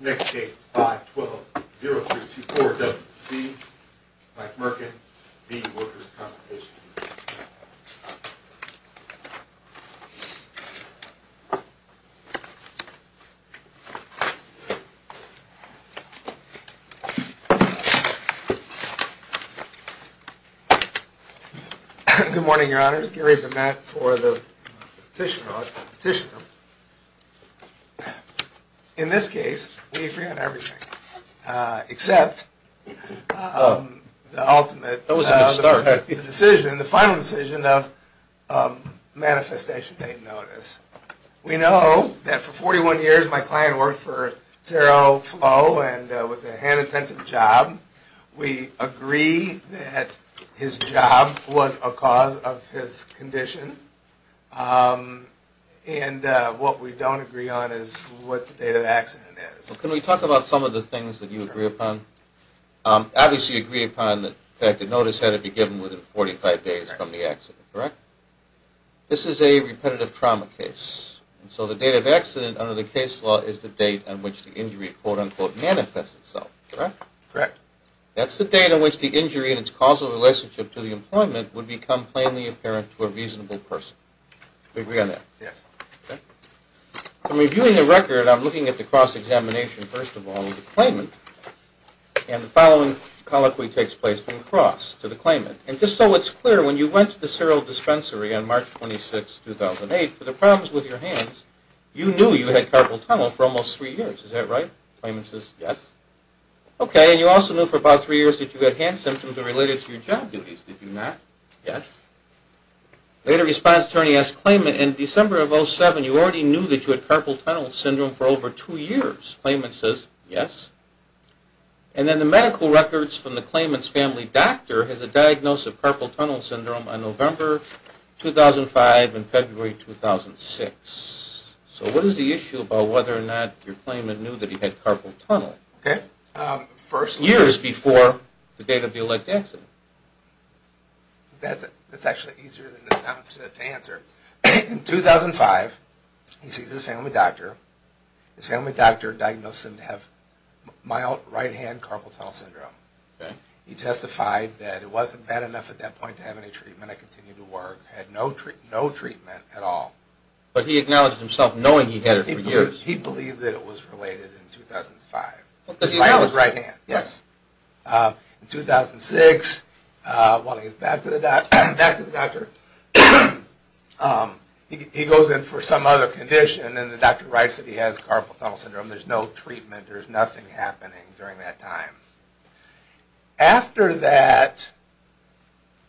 Next case is 5-12-0324-WC. Mike Merkan v. Workers' Compensation Comm'n. Good morning, your honors. Gary Vermette for the Petitioner, the Electoral Petitioner. In this case, we agree on everything, except the ultimate decision, the final decision of Manifestation Paying Notice. We know that for 41 years my client worked for Cero Flo and with a hand-intensive job. We agree that his job was a cause of his condition. And what we don't agree on is what the date of accident is. Well, can we talk about some of the things that you agree upon? Obviously, you agree upon that the notice had to be given within 45 days from the accident, correct? This is a repetitive trauma case. And so the date of accident under the case law is the date on which the injury quote-unquote manifests itself, correct? Correct. That's the date on which the injury and its causal relationship to the employment would become plainly apparent to a reasonable person. Do you agree on that? Yes. Okay. From reviewing the record, I'm looking at the cross-examination, first of all, of the claimant. And the following colloquy takes place from cross to the claimant. And just so it's clear, when you went to the Cero dispensary on March 26, 2008, for the problems with your hands, you knew you had carpal tunnel for almost three years, is that right? The claimant says, yes. Okay. And you also knew for about three years that you had hand symptoms that were related to your job duties, did you not? Yes. The later response attorney asks the claimant, in December of 2007, you already knew that you had carpal tunnel syndrome for over two years. The claimant says, yes. And then the medical records from the claimant's family doctor has a diagnosis of carpal tunnel syndrome on November 2005 and February 2006. So what is the issue about whether or not your claimant knew that he had carpal tunnel? Okay. Years before the date of the elect accident. That's actually easier than it sounds to answer. In 2005, he sees his family doctor. His family doctor diagnosed him to have mild right-hand carpal tunnel syndrome. Okay. He testified that it wasn't bad enough at that point to have any treatment. I continued to work. I had no treatment at all. But he acknowledged himself knowing he had it for years. He believed that it was related in 2005. Because he had mild right-hand. Yes. In 2006, while he was back to the doctor, he goes in for some other condition and the doctor writes that he has carpal tunnel syndrome. There's no treatment. There's nothing happening during that time. After that,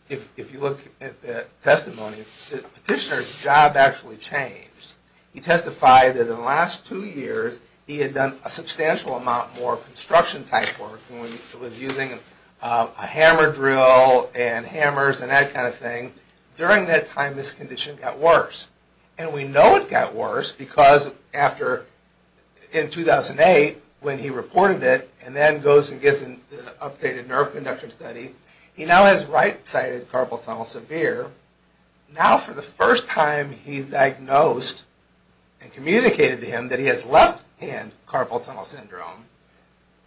if you look at the testimony, the petitioner's job actually changed. He testified that in the last two years, he had done a substantial amount more construction type work. He was using a hammer drill and hammers and that kind of thing. During that time, his condition got worse. And we know it got worse because in 2008, when he reported it and then goes and gets an updated nerve conduction study, he now has right-sided carpal tunnel severe. Now, for the first time, he's diagnosed and communicated to him that he has left-hand carpal tunnel syndrome.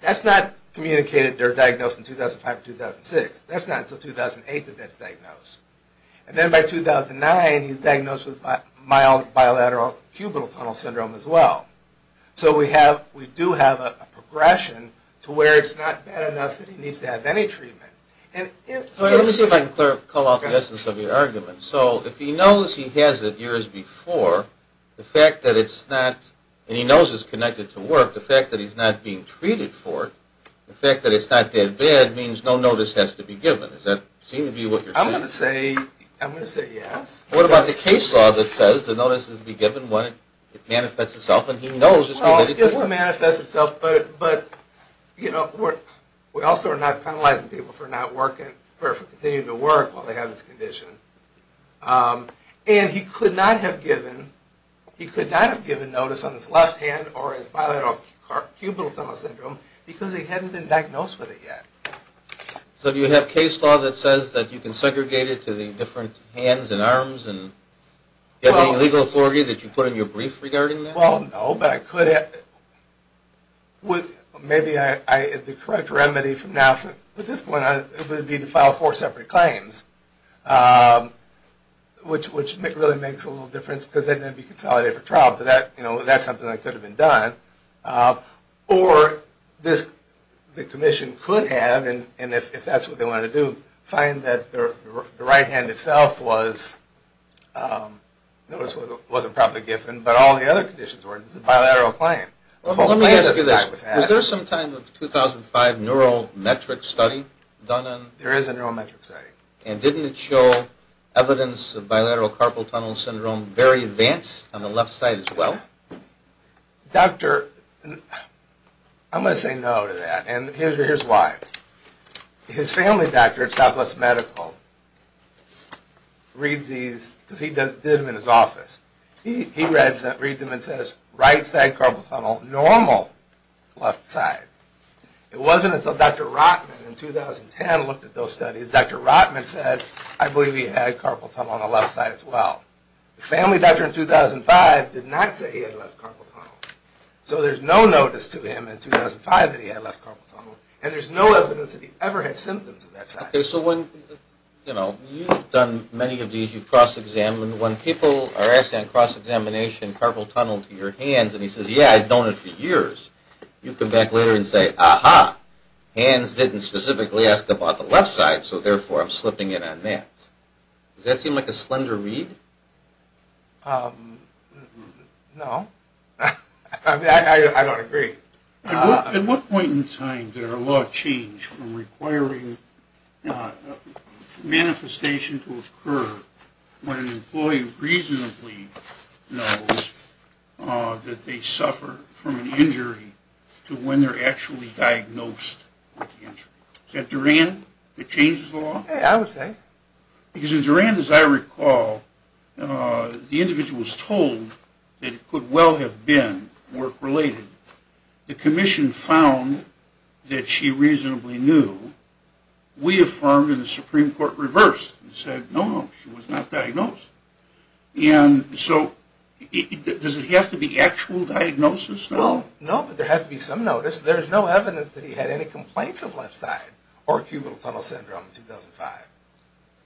That's not communicated or diagnosed in 2005 or 2006. And then by 2009, he's diagnosed with mild bilateral cubital tunnel syndrome as well. So we do have a progression to where it's not bad enough that he needs to have any treatment. Let me see if I can call out the essence of your argument. So if he knows he has it years before, the fact that it's not, and he knows it's connected to work, the fact that he's not being treated for it, the fact that it's not that bad means no notice has to be given. Does that seem to be what you're saying? I'm going to say yes. What about the case law that says the notice has to be given when it manifests itself and he knows it's connected to work? Well, it doesn't manifest itself, but we also are not penalizing people for not working, for continuing to work while they have this condition. And he could not have given notice on his left hand or his bilateral cubital tunnel syndrome because he hadn't been diagnosed with it yet. So do you have case law that says that you can segregate it to the different hands and arms? Do you have any legal authority that you put in your brief regarding that? Well, no, but I could have. Maybe the correct remedy from now, from this point on, would be to file four separate claims, which really makes a little difference because they'd then be consolidated for trial, but that's something that could have been done. Or the commission could have, and if that's what they want to do, find that the right hand itself wasn't properly given, but all the other conditions were. It's a bilateral claim. Let me ask you this. Was there some kind of 2005 neurometric study done on it? There is a neurometric study. And didn't it show evidence of bilateral carpal tunnel syndrome very advanced on the left side as well? Doctor, I'm going to say no to that, and here's why. His family doctor at Southwest Medical reads these because he did them in his office. He reads them and says right side carpal tunnel, normal left side. It wasn't until Dr. Rotman in 2010 looked at those studies. Dr. Rotman said, I believe he had carpal tunnel on the left side as well. The family doctor in 2005 did not say he had left carpal tunnel. So there's no notice to him in 2005 that he had left carpal tunnel, and there's no evidence that he ever had symptoms of that side. Okay, so when, you know, you've done many of these. You've cross-examined. When people are asking on cross-examination, carpal tunnel to your hands, and he says, yeah, I've known it for years, you come back later and say, aha, hands didn't specifically ask about the left side, so therefore I'm slipping in on that. Does that seem like a slender read? No. I mean, I don't agree. At what point in time did our law change from requiring manifestation to occur when an employee reasonably knows that they suffer from an injury to when they're actually diagnosed with the injury? Is that Durand that changes the law? I would say. Because in Durand, as I recall, the individual was told that it could well have been work-related. The commission found that she reasonably knew. We affirmed, and the Supreme Court reversed and said, no, no, she was not diagnosed. And so does it have to be actual diagnosis? Well, no, but there has to be some notice. There's no evidence that he had any complaints of left side or cubital tunnel syndrome in 2005.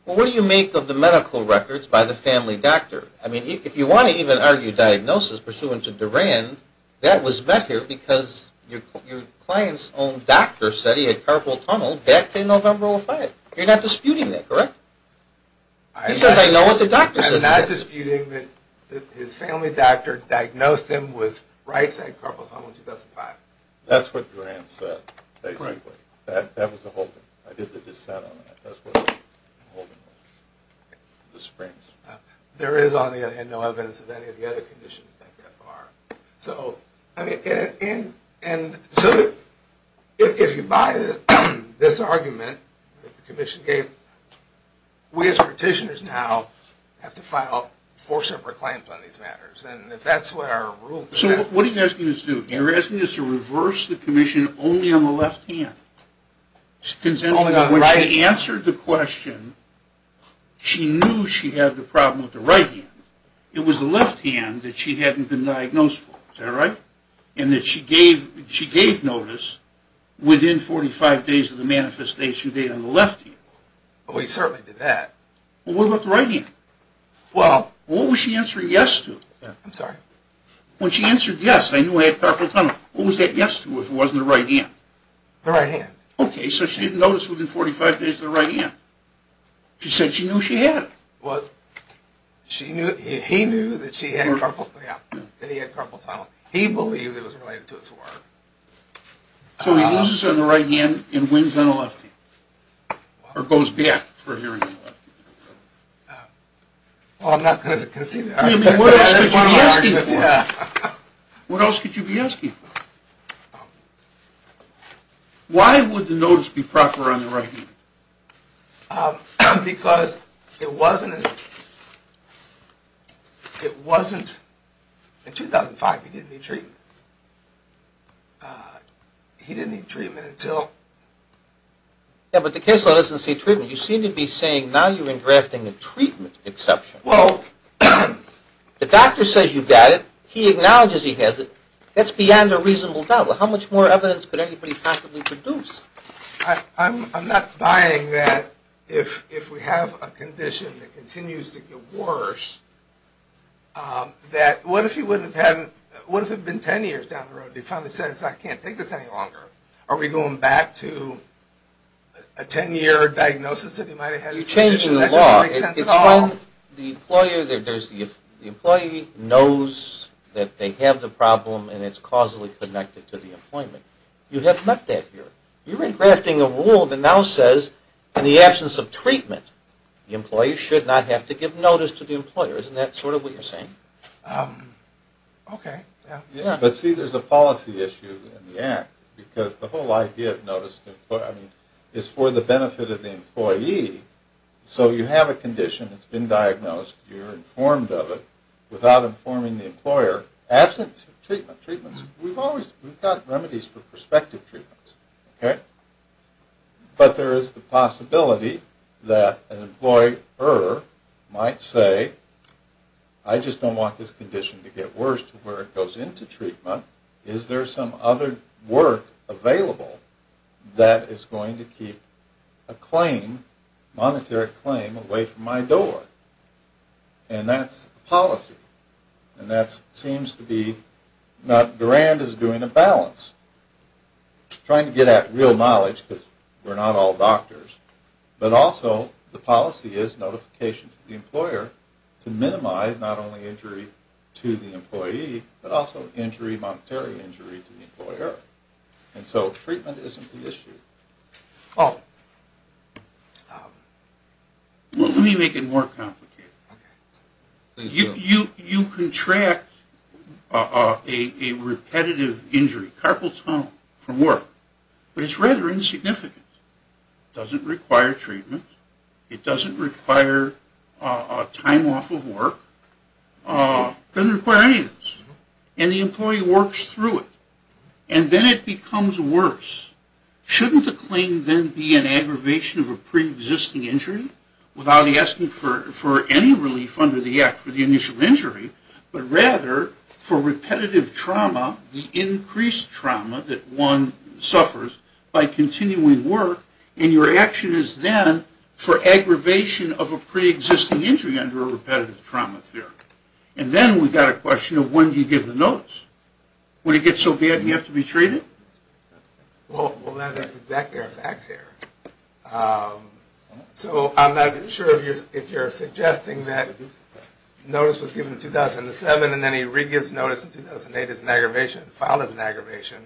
Well, what do you make of the medical records by the family doctor? I mean, if you want to even argue diagnosis pursuant to Durand, that was met here because your client's own doctor said he had carpal tunnel back in November of 2005. You're not disputing that, correct? He says, I know what the doctor says. I'm not disputing that his family doctor diagnosed him with right side carpal tunnel in 2005. That's what Durand said, basically. Correct. That was the whole thing. I did the dissent on that. That's what the whole thing was. The springs. There is, on the other hand, no evidence of any of the other conditions that there are. So, I mean, and so if you buy this argument that the commission gave, we as petitioners now have to file four separate claims on these matters. And if that's what our rule says. So what are you asking us to do? You're asking us to reverse the commission only on the left hand. When she answered the question, she knew she had the problem with the right hand. It was the left hand that she hadn't been diagnosed for. Is that right? And that she gave notice within 45 days of the manifestation date on the left hand. Well, we certainly did that. Well, what about the right hand? Well, what was she answering yes to? I'm sorry? When she answered yes, I knew I had carpal tunnel. What was that yes to if it wasn't the right hand? The right hand. Okay, so she didn't notice within 45 days of the right hand. She said she knew she had it. Well, he knew that she had carpal tunnel. Yeah, that he had carpal tunnel. He believed it was related to his work. So he loses on the right hand and wins on the left hand. Or goes back for hearing on the left hand. Well, I'm not going to concede that argument. What else could you be asking for? What else could you be asking for? Why would the notice be proper on the right hand? Because it wasn't in 2005 he didn't need treatment. He didn't need treatment until. Yeah, but the case law doesn't say treatment. You seem to be saying now you're engrafting a treatment exception. Well, the doctor says you've got it. He acknowledges he has it. That's beyond a reasonable doubt. How much more evidence could anybody possibly produce? I'm not buying that if we have a condition that continues to get worse, that what if it had been 10 years down the road and he finally says, I can't take this any longer? Are we going back to a 10-year diagnosis that he might have had? You're changing the law. That doesn't make sense at all. The employee knows that they have the problem and it's causally connected to the employment. You have met that here. You're engrafting a rule that now says in the absence of treatment, the employee should not have to give notice to the employer. Isn't that sort of what you're saying? Okay, yeah. Yeah, but see there's a policy issue in the act because the whole idea of notice is for the benefit of the employee. So you have a condition that's been diagnosed. You're informed of it without informing the employer. Absent treatment, we've got remedies for prospective treatments. But there is the possibility that an employer might say, I just don't want this condition to get worse to where it goes into treatment. Is there some other work available that is going to keep a claim, a monetary claim, away from my door? And that's the policy. And that seems to be not grand as doing a balance, trying to get at real knowledge because we're not all doctors. But also the policy is notification to the employer to minimize not only injury to the employee but also injury, monetary injury to the employer. And so treatment isn't the issue. Let me make it more complicated. You contract a repetitive injury, carpal tunnel from work, but it's rather insignificant. It doesn't require treatment. It doesn't require a time off of work. It doesn't require any of this. And the employee works through it. And then it becomes worse. Shouldn't the claim then be an aggravation of a preexisting injury without asking for any relief under the act for the initial injury, but rather for repetitive trauma, the increased trauma that one suffers by for aggravation of a preexisting injury under a repetitive trauma theory? And then we've got a question of when do you give the notice? When it gets so bad and you have to be treated? Well, that is exactly our fact here. So I'm not sure if you're suggesting that notice was given in 2007 and then he re-gives notice in 2008 as an aggravation, filed as an aggravation.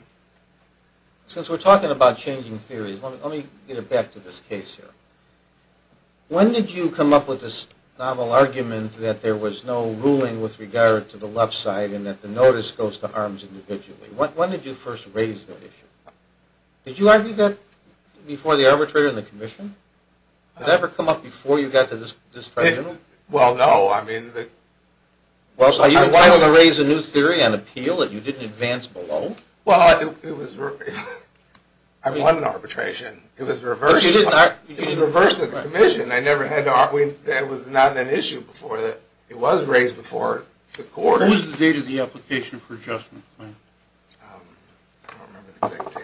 Since we're talking about changing theories, let me get back to this case here. When did you come up with this novel argument that there was no ruling with regard to the left side and that the notice goes to arms individually? When did you first raise that issue? Did you argue that before the arbitrator and the commission? Did that ever come up before you got to this tribunal? Well, no. Are you entitled to raise a new theory on appeal that you didn't advance below? Well, I won an arbitration. It was reversed at the commission. It was not an issue before. It was raised before the court. What was the date of the application for adjustment? I don't remember the exact date.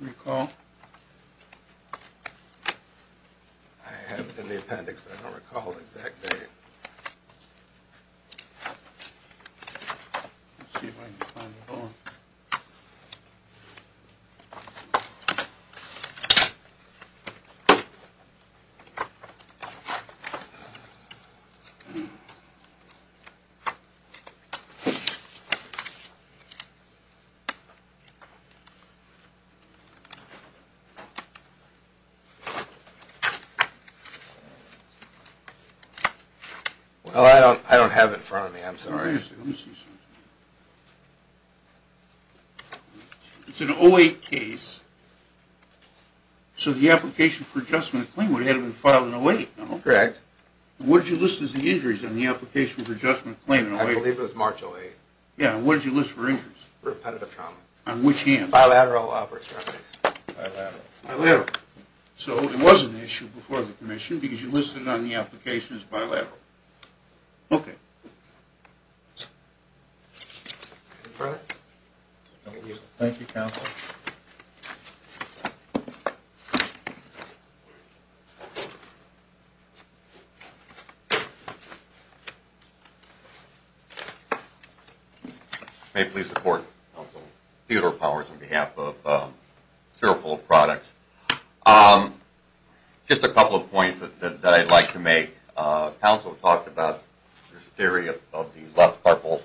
Recall? I have it in the appendix, but I don't recall the exact date. Let's see if I can find it all. Well, I don't have it in front of me. I'm sorry. Let me see. It's an 08 case. So the application for adjustment claim would have been filed in 08. Correct. What did you list as the injuries on the application for adjustment claim in 08? I believe it was March 08. Yeah, and what did you list for injuries? Repetitive trauma. On which hand? Bilateral. So it was an issue before the commission because you listed it on the application as bilateral. Okay. Any further? Thank you, counsel. Thank you. May it please the court. Theodore Powers on behalf of Serifold Products. Just a couple of points that I'd like to make. Counsel talked about this theory of the left carpal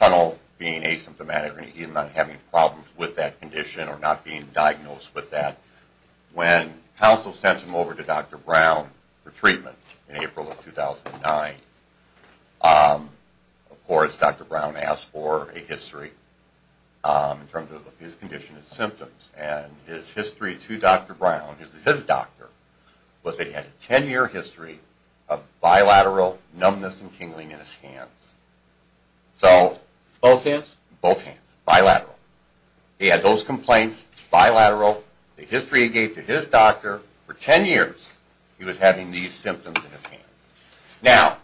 tunnel being asymptomatic and not having problems with that condition or not being diagnosed with that. When counsel sent him over to Dr. Brown for treatment in April of 2009, of course Dr. Brown asked for a history in terms of his condition and symptoms. And his history to Dr. Brown, his doctor, was that he had a 10-year history of bilateral numbness and tingling in his hands. Both hands? Both hands, bilateral. He had those complaints, bilateral, the history he gave to his doctor. For 10 years he was having these symptoms in his hands. Now,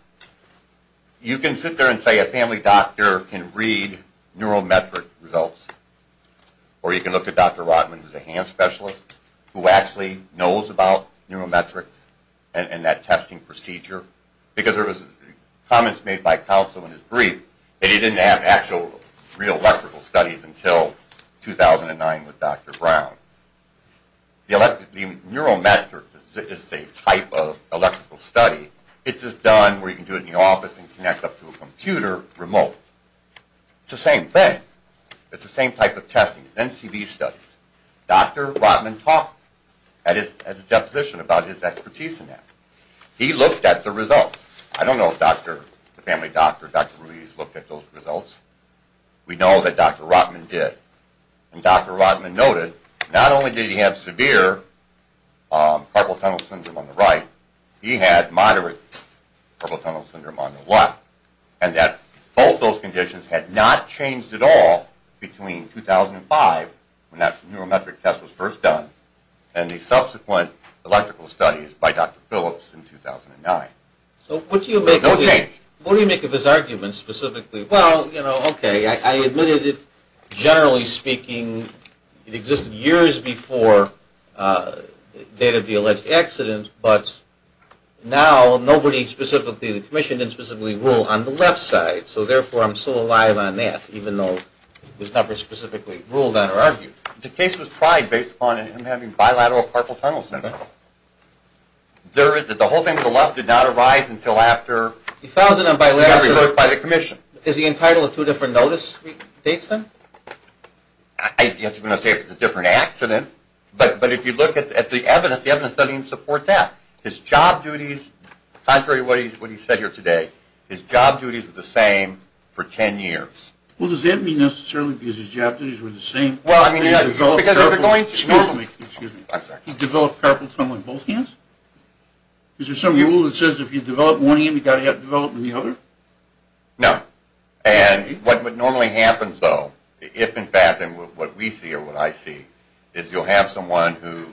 you can sit there and say a family doctor can read neurometric results, or you can look at Dr. Rotman who's a hand specialist who actually knows about neurometrics and that testing procedure. Because there was comments made by counsel in his brief that he didn't have actual real electrical studies until 2009 with Dr. Brown. Neurometrics is a type of electrical study. It's just done where you can do it in the office and connect up to a computer remote. It's the same thing. It's the same type of testing. NCB studies. Dr. Rotman talked at his deposition about his expertise in that. He looked at the results. I don't know if the family doctor, Dr. Ruiz, looked at those results. We know that Dr. Rotman did. And Dr. Rotman noted not only did he have severe carpal tunnel syndrome on the right, he had moderate carpal tunnel syndrome on the left. And that both those conditions had not changed at all between 2005, when that neurometric test was first done, and the subsequent electrical studies by Dr. Phillips in 2009. No change. So what do you make of his argument specifically? Well, you know, okay, I admitted it generally speaking. It existed years before the date of the alleged accident, but now nobody specifically, the commission didn't specifically rule on the left side. So therefore I'm still alive on that, even though there's never specifically ruled on or argued. The case was tried based upon him having bilateral carpal tunnel syndrome. The whole thing with the left did not arise until after he got reversed by the commission. Is he entitled to two different notice dates then? I'm not going to say it was a different accident, but if you look at the evidence, the evidence doesn't even support that. His job duties, contrary to what he said here today, his job duties were the same for 10 years. Well, does that mean necessarily because his job duties were the same? Well, I mean, because if you're going to... He developed carpal tunnel in both hands? Is there some rule that says if you develop one hand, you've got to develop the other? No. And what normally happens though, if in fact, and what we see or what I see, is you'll have someone who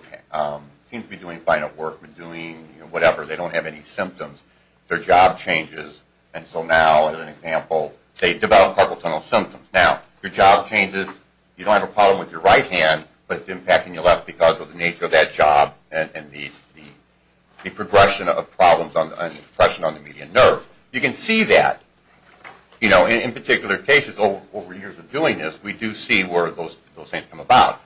seems to be doing fine at work, but doing whatever, they don't have any symptoms, their job changes, and so now, as an example, they develop carpal tunnel symptoms. Now, your job changes, you don't have a problem with your right hand, but it's impacting your left because of the nature of that job and the progression of problems and depression on the median nerve. You can see that, you know, in particular cases over years of doing this, we do see where those things come about.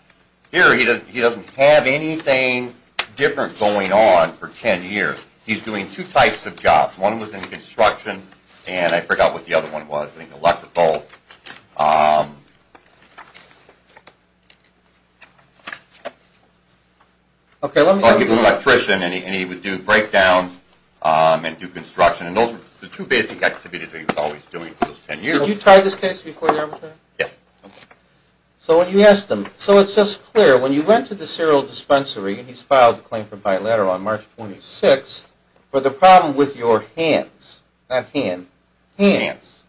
Here, he doesn't have anything different going on for 10 years. He's doing two types of jobs. One was in construction, and I forgot what the other one was. I think electrical. Okay, let me... Oh, he was an electrician, and he would do breakdowns and do construction, and those were the two basic activities that he was always doing for those 10 years. Did you try this case before the armature? Yes. Okay. So when you asked him... So it's just clear, when you went to the cereal dispensary, and he's filed a claim for bilateral on March 26th, for the problem with your hands, not hand, hands,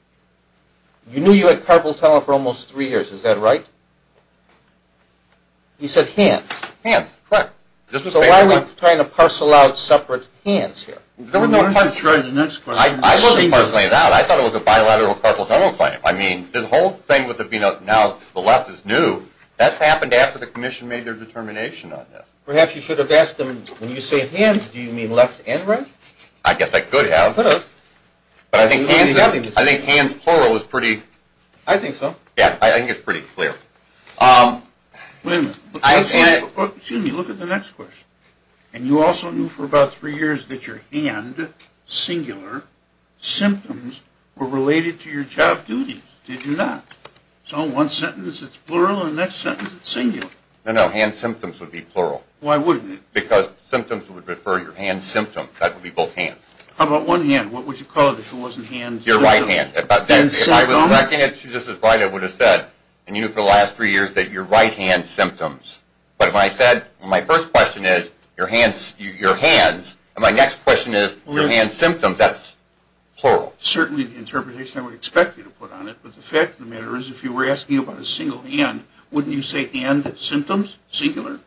you knew you had carpal tunnel for almost 3 years, is that right? He said hands. Hands, correct. So why are we trying to parcel out separate hands here? I thought it was a bilateral carpal tunnel claim. I mean, the whole thing with it being now the left is new, that's happened after the commission made their determination on this. Perhaps you should have asked him, when you say hands, do you mean left and right? I guess I could have. But I think hands plural is pretty... I think so. Yeah, I think it's pretty clear. Excuse me, look at the next question. And you also knew for about 3 years that your hand, singular, symptoms were related to your job duties. Did you not? So one sentence it's plural, and the next sentence it's singular. No, no, hand symptoms would be plural. Why wouldn't it? Because symptoms would refer to your hand symptom. That would be both hands. How about one hand? What would you call it if it wasn't hand symptoms? Your right hand. If I was correct, I would have said, and you knew for the last 3 years, that your right hand symptoms. But if I said, my first question is, your hands, and my next question is, your hand symptoms, that's plural. Certainly the interpretation I would expect you to put on it, but the fact of the matter is, if you were asking about a single hand, wouldn't you say hand symptoms, singular?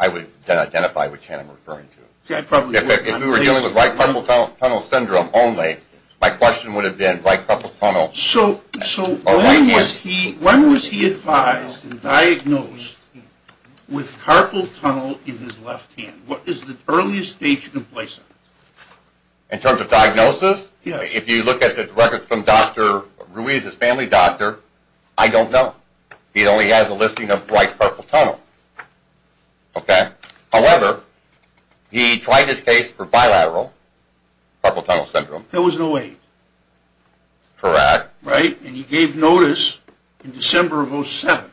I would identify which hand I'm referring to. If we were dealing with right carpal tunnel syndrome only, my question would have been right carpal tunnel. So when was he advised and diagnosed with carpal tunnel in his left hand? What is the earliest stage of complacency? In terms of diagnosis? If you look at the records from Dr. Ruiz's family doctor, I don't know. He only has a listing of right carpal tunnel. However, he tried his case for bilateral carpal tunnel syndrome. That was in 08. Correct. And he gave notice in December of 07.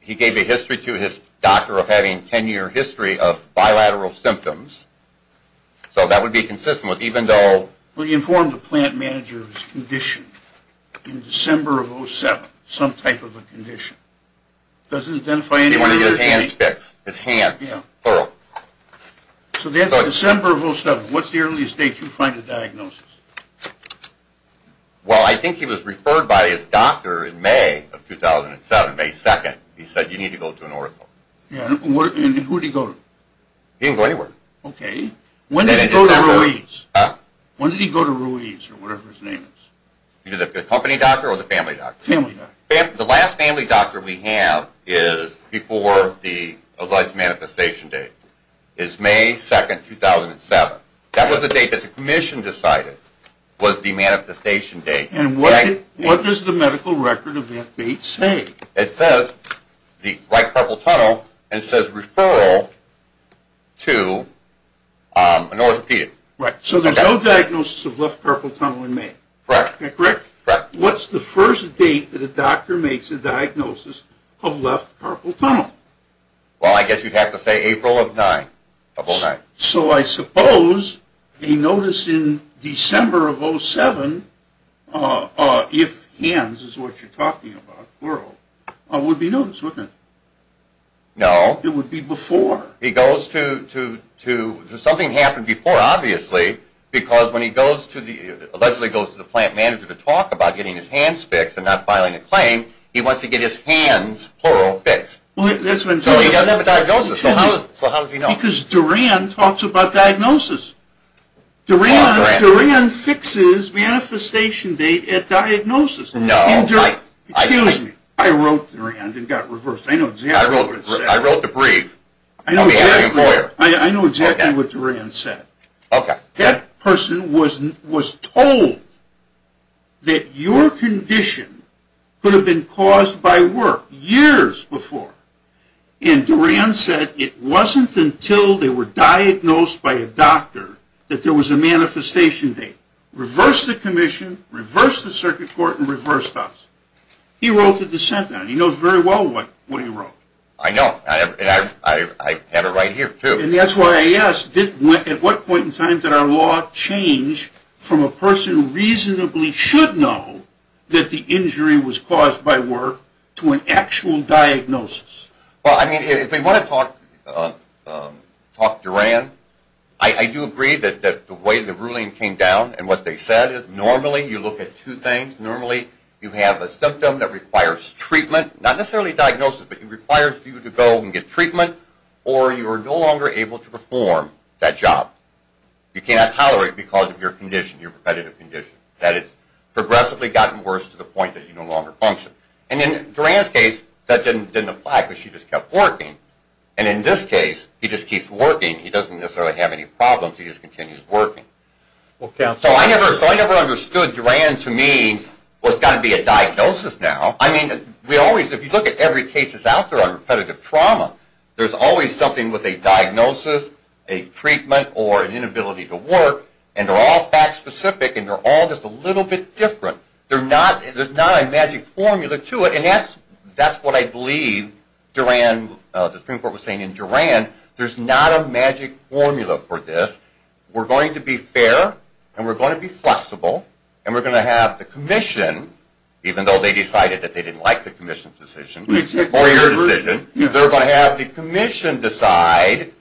He gave a history to his doctor of having 10 year history of bilateral symptoms. So that would be consistent. He informed the plant manager of his condition in December of 07. Some type of a condition. Doesn't identify any... So that's December of 07. What's the earliest date you find a diagnosis? Well, I think he was referred by his doctor in May of 2007, May 2. He said, you need to go to an ortho. And who did he go to? He didn't go anywhere. When did he go to Ruiz? The company doctor or the family doctor? Family doctor. The last family doctor we have is before the alleged manifestation date. It's May 2, 2007. That was the date that the commission decided was the manifestation date. And what does the medical record of that date say? It says, the right carpal tunnel, and it says referral to an orthopedic. Right. So it's a referral to an orthopedic. So there's no diagnosis of left carpal tunnel in May. Correct. What's the first date that a doctor makes a diagnosis of left carpal tunnel? Well, I guess you'd have to say April of 09. So I suppose a notice in December of 07, if hands is what you're talking about, would be noticed, wouldn't it? No. It would be before. It would be before. Something happened before, obviously, because when he allegedly goes to the plant manager to talk about getting his hands fixed and not filing a claim, he wants to get his hands, plural, fixed. So he doesn't have a diagnosis. So how does he know? Because Duran talks about diagnosis. Duran fixes manifestation date at diagnosis. No. Excuse me. I wrote Duran and got reversed. I know exactly what it said. I wrote the brief. I know exactly what Duran said. Okay. That person was told that your condition could have been caused by work years before, and Duran said it wasn't until they were diagnosed by a doctor that there was a manifestation date. He reversed the commission, reversed the circuit court, and reversed us. He wrote the dissent on it. He knows very well what he wrote. I know. I have it right here, too. And that's why I asked, at what point in time did our law change from a person who reasonably should know that the injury was caused by work to an actual diagnosis? Well, I mean, if we want to talk Duran, I do agree that the way the ruling came down and what they said is normally you look at two things. Normally you have a symptom that requires treatment, not necessarily diagnosis, but it requires you to go and get treatment, or you are no longer able to perform that job. You cannot tolerate it because of your condition, your repetitive condition, that it's progressively gotten worse to the point that you no longer function. And in Duran's case, that didn't apply because she just kept working. And in this case, he just keeps working. He doesn't necessarily have any problems. He just continues working. So I never understood Duran to mean, well, it's got to be a diagnosis now. I mean, if you look at every case that's out there on repetitive trauma, there's always something with a diagnosis, a treatment, or an inability to work. And they're all fact-specific, and they're all just a little bit different. There's not a magic formula to it. And that's what I believe the Supreme Court was saying in Duran. There's not a magic formula for this. We're going to be fair, and we're going to be flexible, and we're going to have the commission, even though they decided that they didn't like the commission's decision, or your decision, they're going to have the commission decide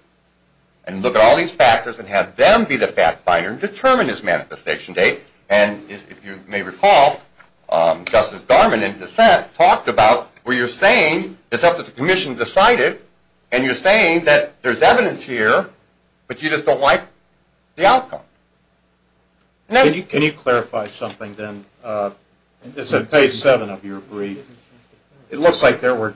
and look at all these factors and have them be the fact-finder and determine his manifestation date. And if you may recall, Justice Darman in dissent talked about where you're saying it's up to the commission to decide it, and you're saying that there's evidence here, but you just don't like the outcome. Can you clarify something then? It's on page 7 of your brief. It looks like there were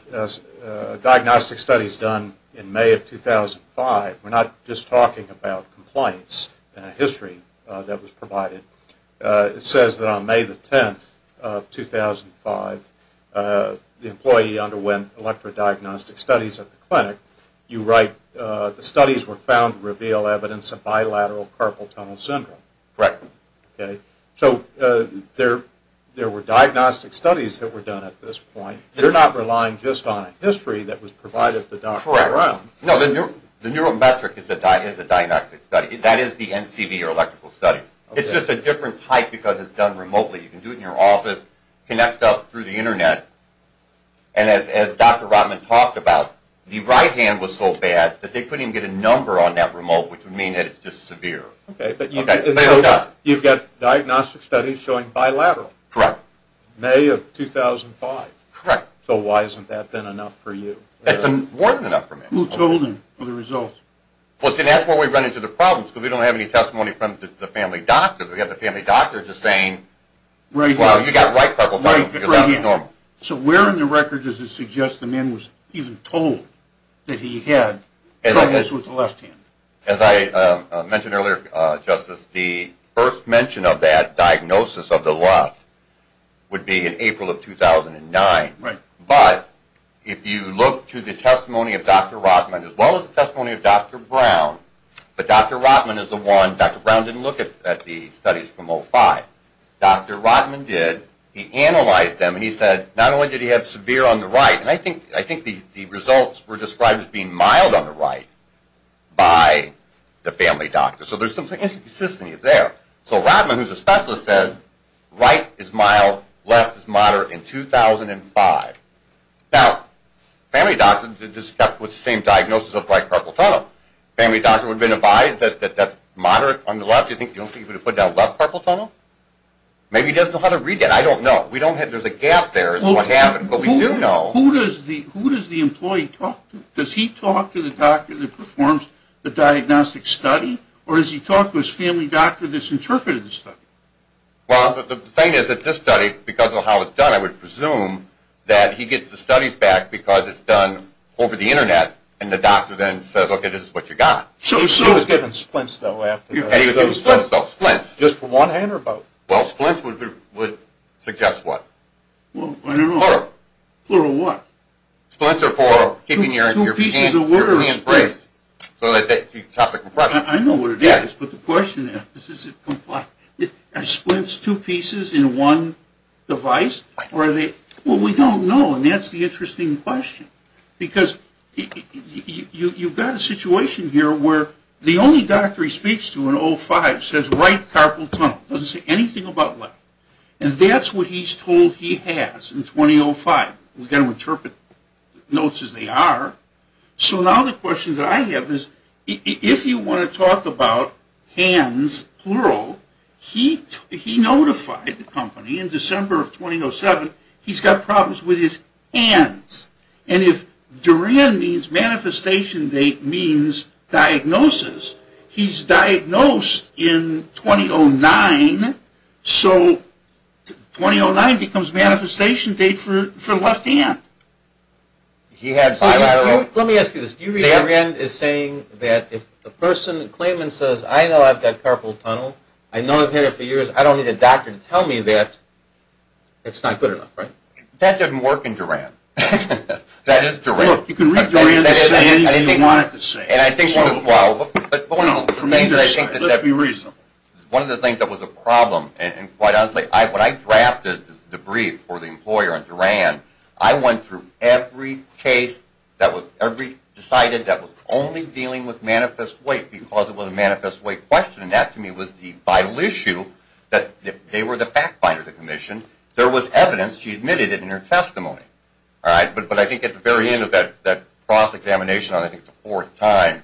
diagnostic studies done in May of 2005. We're not just talking about compliance in a history that was provided. It says that on May the 10th of 2005, the employee underwent electrodiagnostic studies at the clinic. You write, the studies were found to reveal evidence of bilateral carpal tunnel syndrome. So there were diagnostic studies that were done at this point. You're not relying just on a history that was provided to Dr. Brown. No, the neurometric is a diagnostic study. That is the NCB, or electrical studies. It's just a different type because it's done remotely. You can do it in your office, connect up through the Internet, and as Dr. Rotman talked about, the right hand was so bad that they couldn't even get a number on that remote, which would mean that it's just severe. You've got diagnostic studies showing bilateral. May of 2005. So why hasn't that been enough for you? Who told him of the results? That's where we run into the problems because we don't have any testimony from the family doctor. We have the family doctor just saying, you've got right carpal tunnel syndrome. So where in the record does it suggest the man was even told that he had troubles with the left hand? As I mentioned earlier, Justice, the first mention of that diagnosis of the left would be in April of 2009. But if you look to the testimony of Dr. Rotman as well as the testimony of Dr. Brown, but Dr. Rotman is the one, Dr. Brown didn't look at the studies from 05. Dr. Rotman did. He analyzed them and he said, not only did he have severe on the right, and I think the results were described as being mild on the right by the family doctor. So there's some consistency there. So Rotman, who's a specialist, says right is mild, left is moderate in 2005. Now, family doctors are described with the same diagnosis of right carpal tunnel. Family doctor would have been advised that that's moderate on the left. Do you think he would have put down left carpal tunnel? Maybe he doesn't know how to read that. I don't know. There's a gap there. Who does the employee talk to? Does he talk to the doctor that performs the diagnostic study? Or does he talk to his family doctor that's interpreted the study? Well, the thing is that this study, because of how it's done, I would presume that he gets the studies back because it's done over the Internet and the doctor then says, okay, this is what you got. He was given splints, though, after that. Just for one hand or both? Well, splints would suggest what? Plural what? Splints are for keeping your hands braced. I know what it is, but the question is, are splints two pieces in one device? Well, we don't know, and that's the interesting question. Because you've got a situation here where the only doctor he speaks to in 05 says right carpal tunnel. Doesn't say anything about left. And that's what he's told he has in 2005. We've got to interpret notes as they are. So now the question that I have is, if you want to talk about hands, plural, he notified the company in December of 2007, he's got problems with his hands. And if Duran means manifestation date, Duran means diagnosis. He's diagnosed in 2009, so 2009 becomes manifestation date for left hand. Let me ask you this. Do you read Duran as saying that if a person claims and says, I know I've got carpal tunnel, I know I've had it for years, I don't need a doctor to tell me that, it's not good enough, right? That doesn't work in Duran. That is Duran. You can read Duran to say anything you want it to say. Let's be reasonable. One of the things that was a problem, when I drafted the brief for the employer on Duran, I went through every case, decided that was only dealing with manifest weight, because it was a manifest weight question. And that to me was the vital issue, that if they were the fact finder of the commission, there was evidence she admitted it in her testimony. But I think at the very end of that cross-examination, on I think the fourth time,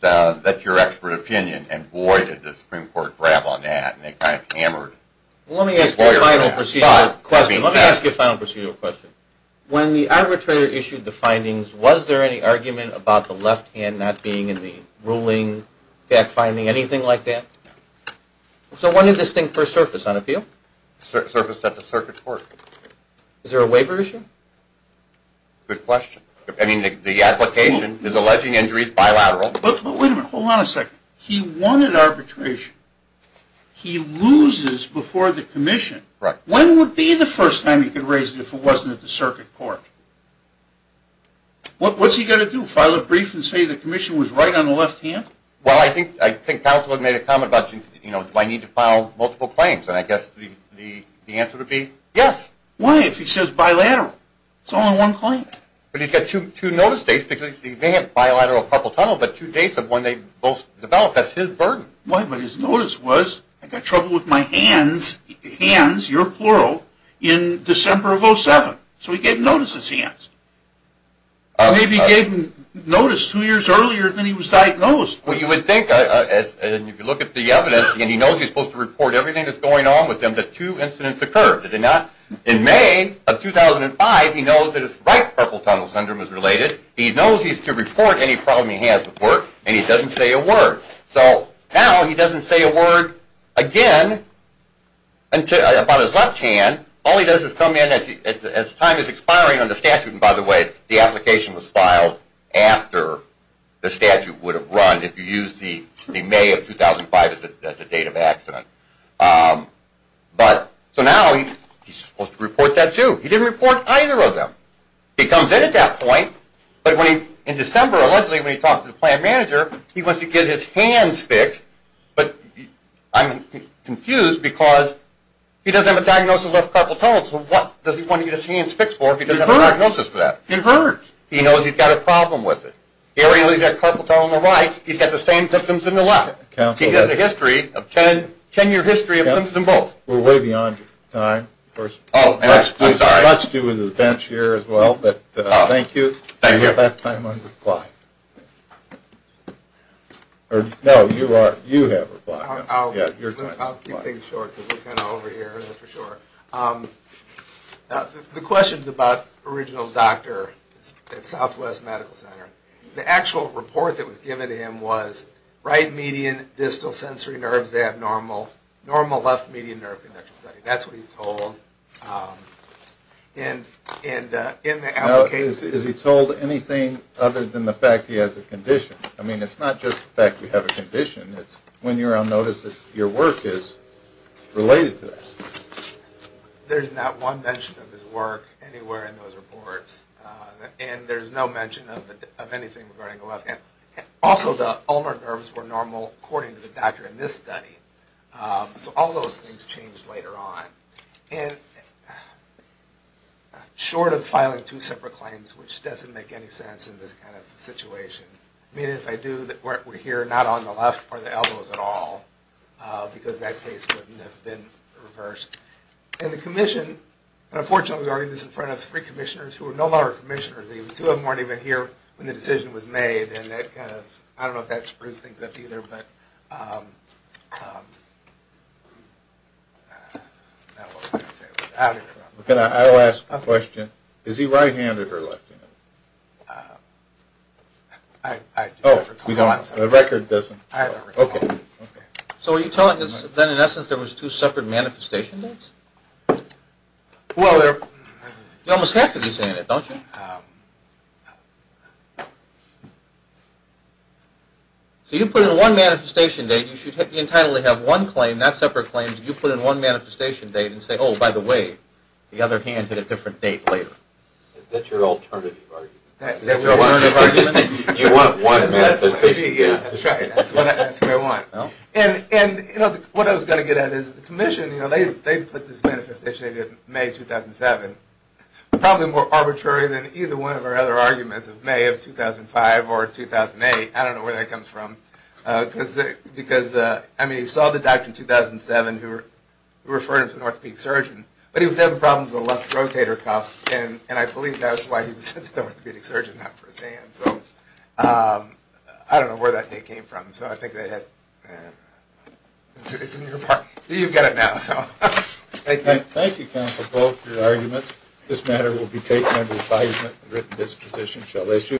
that's your expert opinion, and boy did the Supreme Court grab on that, and they kind of hammered the employer on that. Let me ask you a final procedural question. When the arbitrator issued the findings, was there any argument about the left hand not being in the ruling, fact finding, anything like that? So when did this thing first surface on appeal? It surfaced at the circuit court. Is there a waiver issue? Good question. I mean the application is alleging injuries bilateral. But wait a minute, hold on a second. He won at arbitration. He loses before the commission. When would be the first time he could raise it if it wasn't at the circuit court? What's he going to do, file a brief and say the commission was right on the left hand? Well I think counsel made a comment about do I need to file multiple claims, and I guess the answer would be yes. Why if he says bilateral? It's only one claim. But he's got two notice dates because he may have bilateral carpal tunnel, but two dates of when they both developed, that's his burden. But his notice was I've got trouble with my hands, hands, your plural, in December of 2007. So he gave notice his hands. Maybe he gave notice two years earlier than he was diagnosed. Well you would think, if you look at the evidence, and he knows he's supposed to report everything that's going on with him, that two incidents occurred, did he not? In May of 2005 he knows that his right carpal tunnel syndrome is related, he knows he's to report any problem he has with work, and he doesn't say a word. So now he doesn't say a word again about his left hand, all he does is come in as time is expiring on the statute, and by the way, the application was filed after the statute would have run, if you use the May of 2005 as the date of accident. So now he's supposed to report that too. He didn't report either of them. He comes in at that point, but in December allegedly when he talked to the plant manager, he wants to get his hands fixed, but I'm confused because he doesn't have a diagnosis of left carpal tunnel, so what does he want to get his hands fixed for if he doesn't have a diagnosis for that? It hurts. He knows he's got a problem with it. He already knows he's got a carpal tunnel in the right, he's got the same symptoms in the left. He has a 10 year history of symptoms in both. We're way beyond your time. Let's do the bench here as well, but thank you. Do you have time on reply? No, you have reply. I'll keep things short because we're kind of over here. The question is about the original doctor at Southwest Medical Center. The actual report that was given to him was right median distal sensory nerves abnormal, normal left median nerve conduction. That's what he's told. Is he told anything other than the fact that he has a condition? I mean it's not just the fact that he has a condition, it's when you're on notice that your work is related to that. There's not one mention of his work anywhere in those reports, and there's no mention of anything regarding the left hand. Also the ulnar nerve, the ulnar nerves were normal according to the doctor in this study. So all those things changed later on. Short of filing two separate claims, which doesn't make any sense in this kind of situation. I mean if I do, we're here not on the left or the elbows at all, because that case wouldn't have been reversed. And the commission, unfortunately we argued this in front of three commissioners who are no longer commissioners. Two of them weren't even here when the decision was made, and I don't know if that sprues things up either. I'll ask a question. Is he right handed or left handed? I don't recall. So are you telling us that in essence there was two separate manifestation dates? You almost have to be saying it don't you? So you put in one manifestation date, you should entirely have one claim, not separate claims. You put in one manifestation date and say oh by the way, the other hand had a different date later. That's your alternative argument. You want one manifestation date. That's what I want. And what I was going to get at is the commission, they put this manifestation date of May 2007. Probably more arbitrary than either one of our other arguments of May of 2005 or 2008. I don't know where that comes from. Because you saw the doctor in 2007 who referred him to an orthopedic surgeon, but he was having problems with a left rotator cuff and I believe that's why he was sent to the orthopedic surgeon not for his hand. I don't know where that date came from. It's in your pocket. You've got it now. Thank you counsel Bow for your arguments. This matter will be taken under advisement.